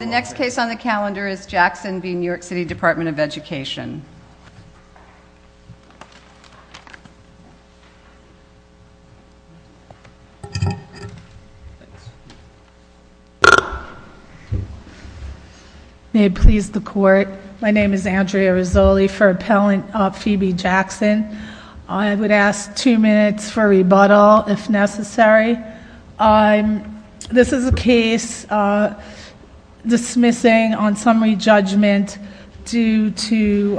The next case on the calendar is Jackson v. New York City Department of Education. May it please the court, my name is Andrea Rizzoli for appellant Phoebe Jackson. I would ask two minutes for rebuttal if necessary. This is a case dismissing on summary judgment due to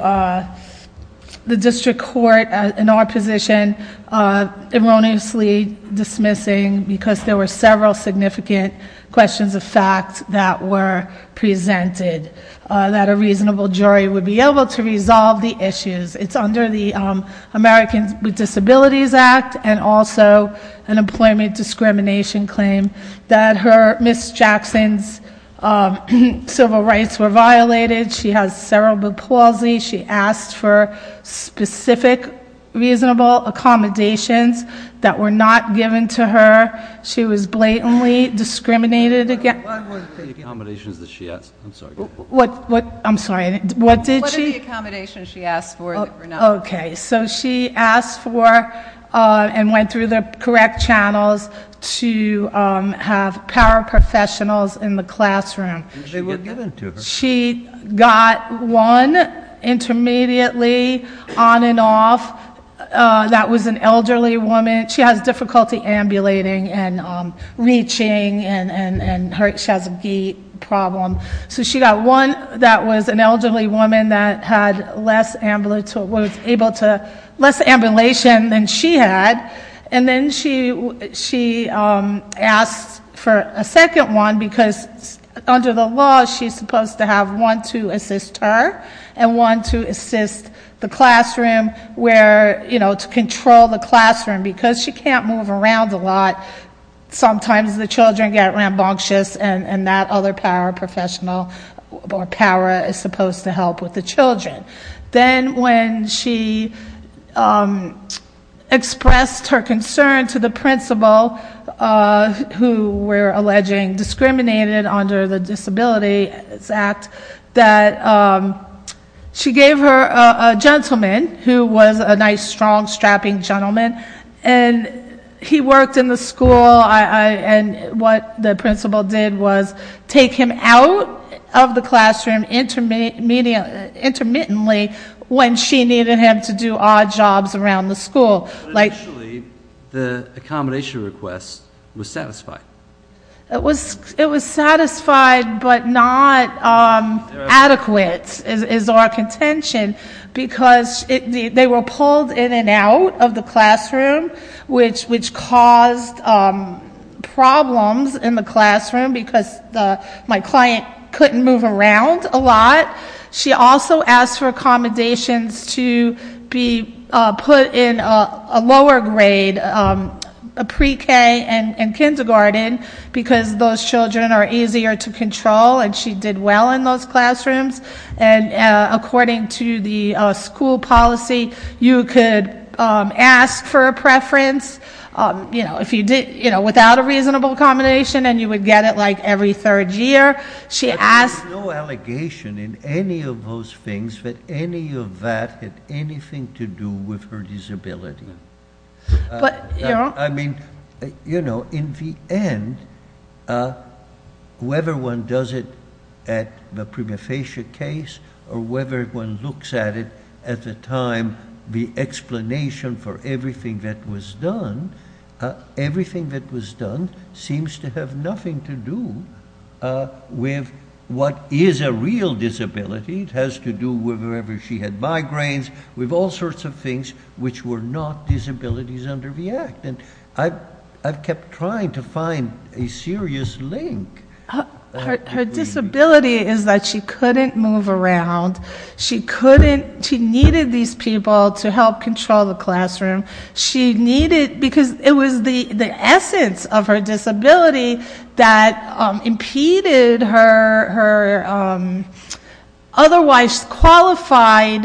the district court in our position erroneously dismissing because there were several significant questions of fact that were presented that a reasonable jury would be able to resolve the issues. It's under the Americans with Disabilities Act and also an employment discrimination claim that Ms. Jackson's civil rights were violated. She has cerebral palsy. She asked for specific reasonable accommodations that were not given to her. She was blatantly discriminated against. What were the accommodations that she asked for? So she got one that was an elderly woman that had less ambulation than she had and then she asked for a second one because under the law she's supposed to have one to assist her and one to assist the classroom to control the classroom. Because she can't move around a lot, sometimes the children get rambunctious and that other paraprofessional or para is supposed to help with the children. Then when she expressed her concern to the principal who we're alleging discriminated under the Disabilities Act that she gave her a gentleman who was a nice strong strapping gentleman and he worked in the school and what the principal did was take him out of the classroom intermittently when she needed him to do odd jobs around the school. Initially the accommodation request was satisfied. It was satisfied but not adequate is our contention because they were pulled in and out of the classroom which caused problems in the classroom because my client couldn't move around a lot. She also asked for accommodations to be put in a lower grade pre-k and kindergarten because those children are easier to control and she did well in those classrooms. According to the school policy you could ask for a preference without a reasonable accommodation and you would get it like every third year. There is no allegation in any of those things that any of that had anything to do with her disability. In the end whether one does it at the prima facie case or whether one looks at it at the time the explanation for everything that was done, everything that was done seems to have nothing to do with what is a real disability. It has to do with whether she had migraines with all sorts of things which were not disabilities under the act. I've kept trying to find a serious link. Her disability is that she couldn't move around. She needed these people to help control the classroom because it was the essence of her disability that impeded her otherwise qualified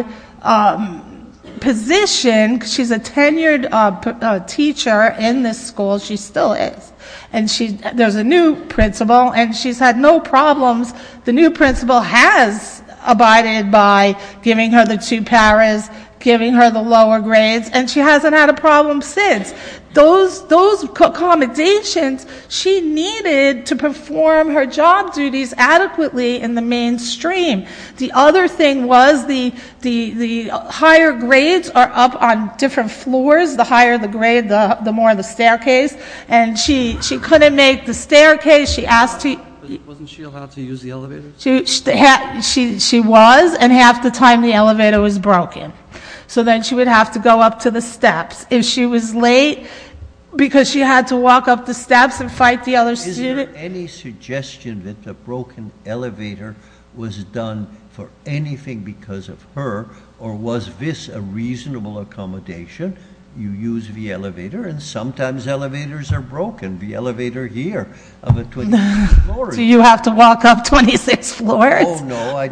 position. She's a tenured teacher in this school. She still is. There's a new principal and she's had no problems. The new principal has abided by giving her the two paras, giving her the lower grades and she hasn't had a problem since. Those accommodations she needed to perform her job duties adequately in the mainstream. The other thing was the higher grades are up on different floors. The higher the grade the more the staircase and she couldn't make the staircase. She asked to- Wasn't she allowed to use the elevator? She was and half the time the elevator was broken. So then she would have to go up to the steps. If she was late because she had to walk up the steps and fight the other students- Was there any suggestion that the broken elevator was done for anything because of her or was this a reasonable accommodation? You use the elevator and sometimes elevators are broken. The elevator here of a 26th floor- Do you have to walk up 26 floors? Oh, no.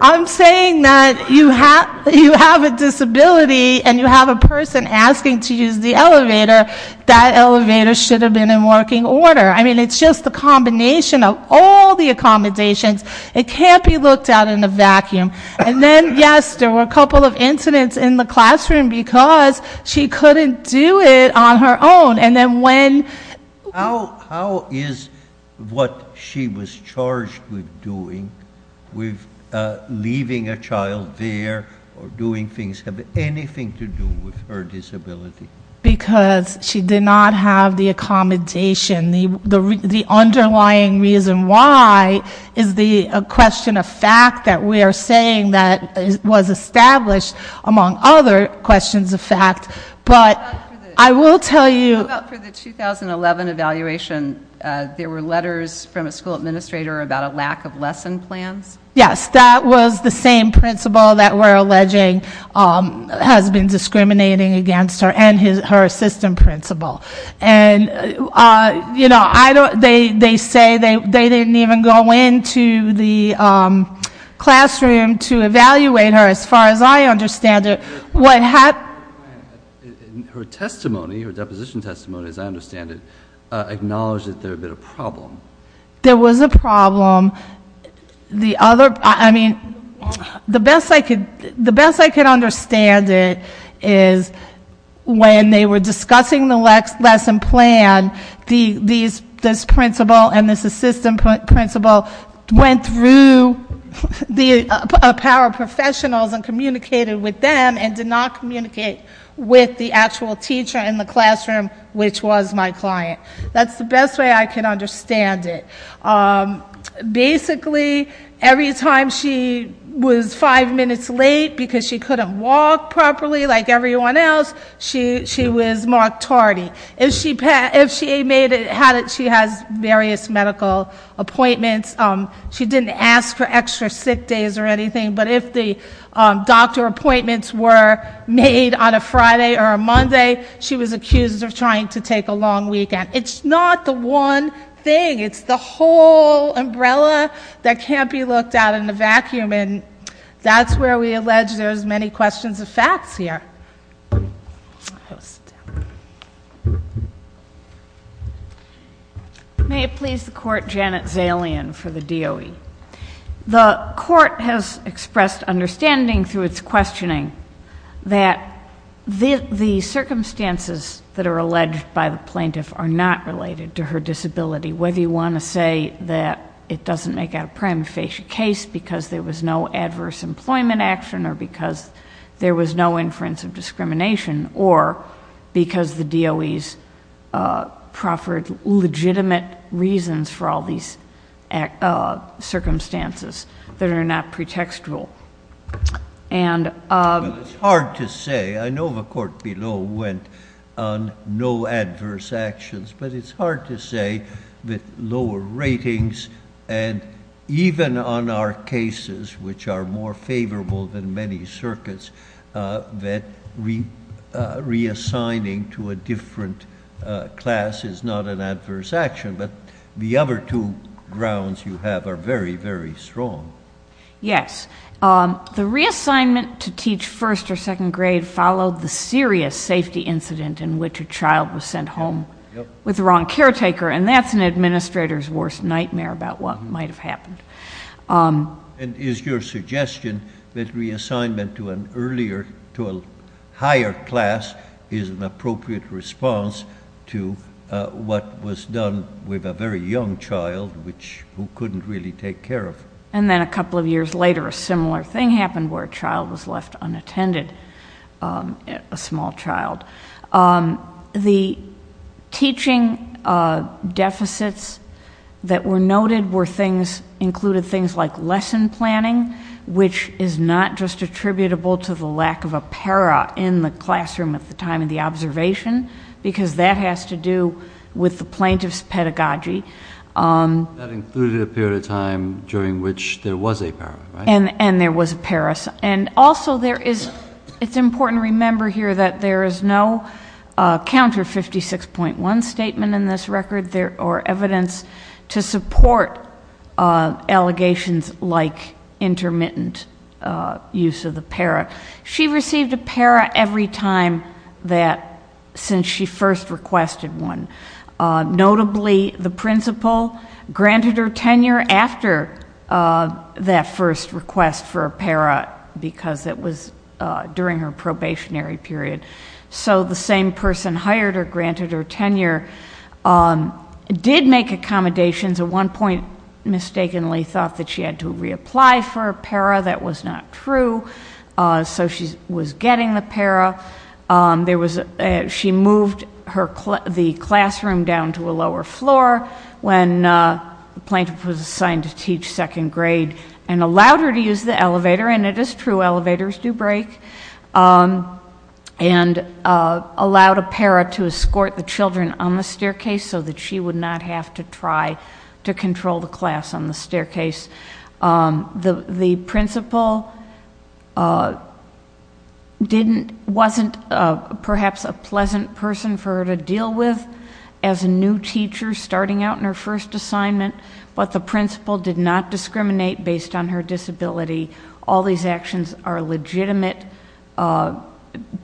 I'm saying that you have a disability and you have a person asking to use the elevator. That elevator should have been in working order. I mean it's just a combination of all the accommodations. It can't be looked at in a vacuum. And then, yes, there were a couple of incidents in the classroom because she couldn't do it on her own. And then when- How is what she was charged with doing, with leaving a child there or doing things, have anything to do with her disability? Because she did not have the accommodation. The underlying reason why is the question of fact that we are saying that was established among other questions of fact. But I will tell you- How about for the 2011 evaluation, there were letters from a school administrator about a lack of lesson plans? Yes, that was the same principal that we're alleging has been discriminating against her and her assistant principal. And they say they didn't even go into the classroom to evaluate her as far as I understand it. What happened- Her testimony, her deposition testimony as I understand it, acknowledged that there had been a problem. There was a problem. The other- I mean, the best I could understand it is when they were discussing the lesson plan, this principal and this assistant principal went through the power of professionals and communicated with them and did not communicate with the actual teacher in the classroom, which was my client. That's the best way I can understand it. Basically, every time she was five minutes late because she couldn't walk properly like everyone else, she was marked tardy. If she made it, she has various medical appointments. She didn't ask for extra sick days or anything, but if the doctor appointments were made on a Friday or a Monday, she was accused of trying to take a long weekend. It's not the one thing. It's the whole umbrella that can't be looked at in a vacuum, and that's where we allege there's many questions of facts here. May it please the Court, Janet Zalian for the DOE. The Court has expressed understanding through its questioning that the circumstances that are alleged by the plaintiff are not related to her disability, whether you want to say that it doesn't make out a prima facie case because there was no adverse employment action or because there was no inference of discrimination or because the DOE's proffered legitimate reasons for all these circumstances that are not pretextual. It's hard to say. I know the Court below went on no adverse actions, but it's hard to say that lower ratings and even on our cases, which are more favorable than many circuits, that reassigning to a different class is not an adverse action, but the other two grounds you have are very, very strong. Yes. The reassignment to teach first or second grade followed the serious safety incident in which a child was sent home with the wrong caretaker, and that's an administrator's worst nightmare about what might have happened. And is your suggestion that reassignment to an earlier, to a higher class, is an appropriate response to what was done with a very young child who couldn't really take care of? And then a couple of years later, a similar thing happened where a child was left unattended, a small child. The teaching deficits that were noted included things like lesson planning, which is not just attributable to the lack of a para in the classroom at the time of the observation, because that has to do with the plaintiff's pedagogy. That included a period of time during which there was a para, right? And there was a para. Yes. And also, it's important to remember here that there is no counter 56.1 statement in this record or evidence to support allegations like intermittent use of the para. She received a para every time since she first requested one. Notably, the principal granted her tenure after that first request for a para, because it was during her probationary period. So the same person hired her, granted her tenure, did make accommodations. At one point, mistakenly thought that she had to reapply for a para. That was not true. So she was getting the para. She moved the classroom down to a lower floor when the plaintiff was assigned to teach second grade and allowed her to use the elevator, and it is true, elevators do break, and allowed a para to escort the children on the staircase so that she would not have to try to control the class on the staircase. The principal wasn't perhaps a pleasant person for her to deal with as a new teacher starting out in her first assignment, but the principal did not discriminate based on her disability. All these actions are legitimate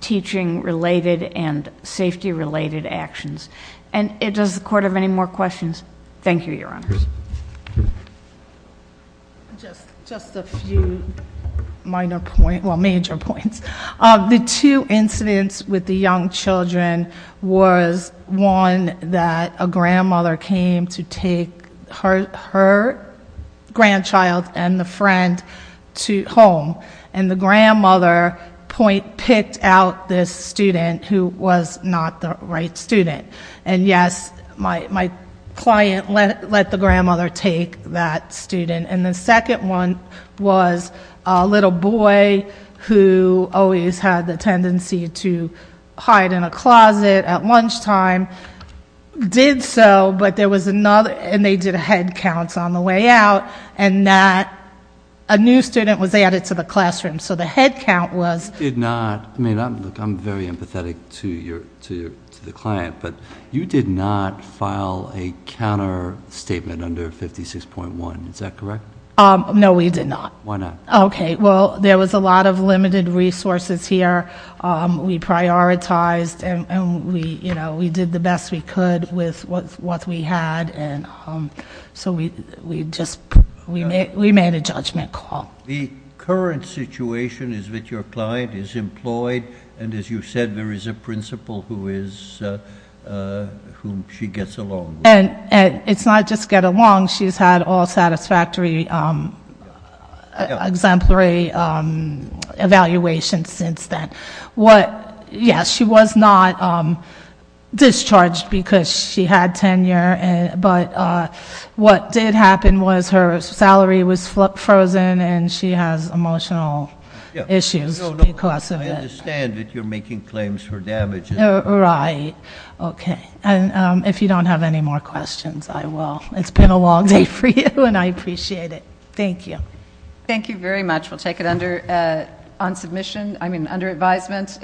teaching-related and safety-related actions. And does the Court have any more questions? Thank you, Your Honors. Just a few minor points, well, major points. The two incidents with the young children was one that a grandmother came to take her grandchild and the friend home, and the grandmother picked out this student who was not the right student. And yes, my client let the grandmother take that student. And the second one was a little boy who always had the tendency to hide in a closet at lunchtime. Did so, but there was another, and they did head counts on the way out, and that a new student was added to the classroom, so the head count was... I mean, look, I'm very empathetic to the client, but you did not file a counter-statement under 56.1. Is that correct? No, we did not. Why not? Okay, well, there was a lot of limited resources here. We prioritized, and we did the best we could with what we had, and so we just made a judgment call. The current situation is that your client is employed, and as you said, there is a principal whom she gets along with. And it's not just get along. She's had all satisfactory exemplary evaluations since then. Yes, she was not discharged because she had tenure, but what did happen was her salary was frozen, and she has emotional issues because of it. I understand that you're making claims for damages. Right, okay. And if you don't have any more questions, I will. It's been a long day for you, and I appreciate it. Thank you. Thank you very much. We'll take it on submission, I mean under advisement.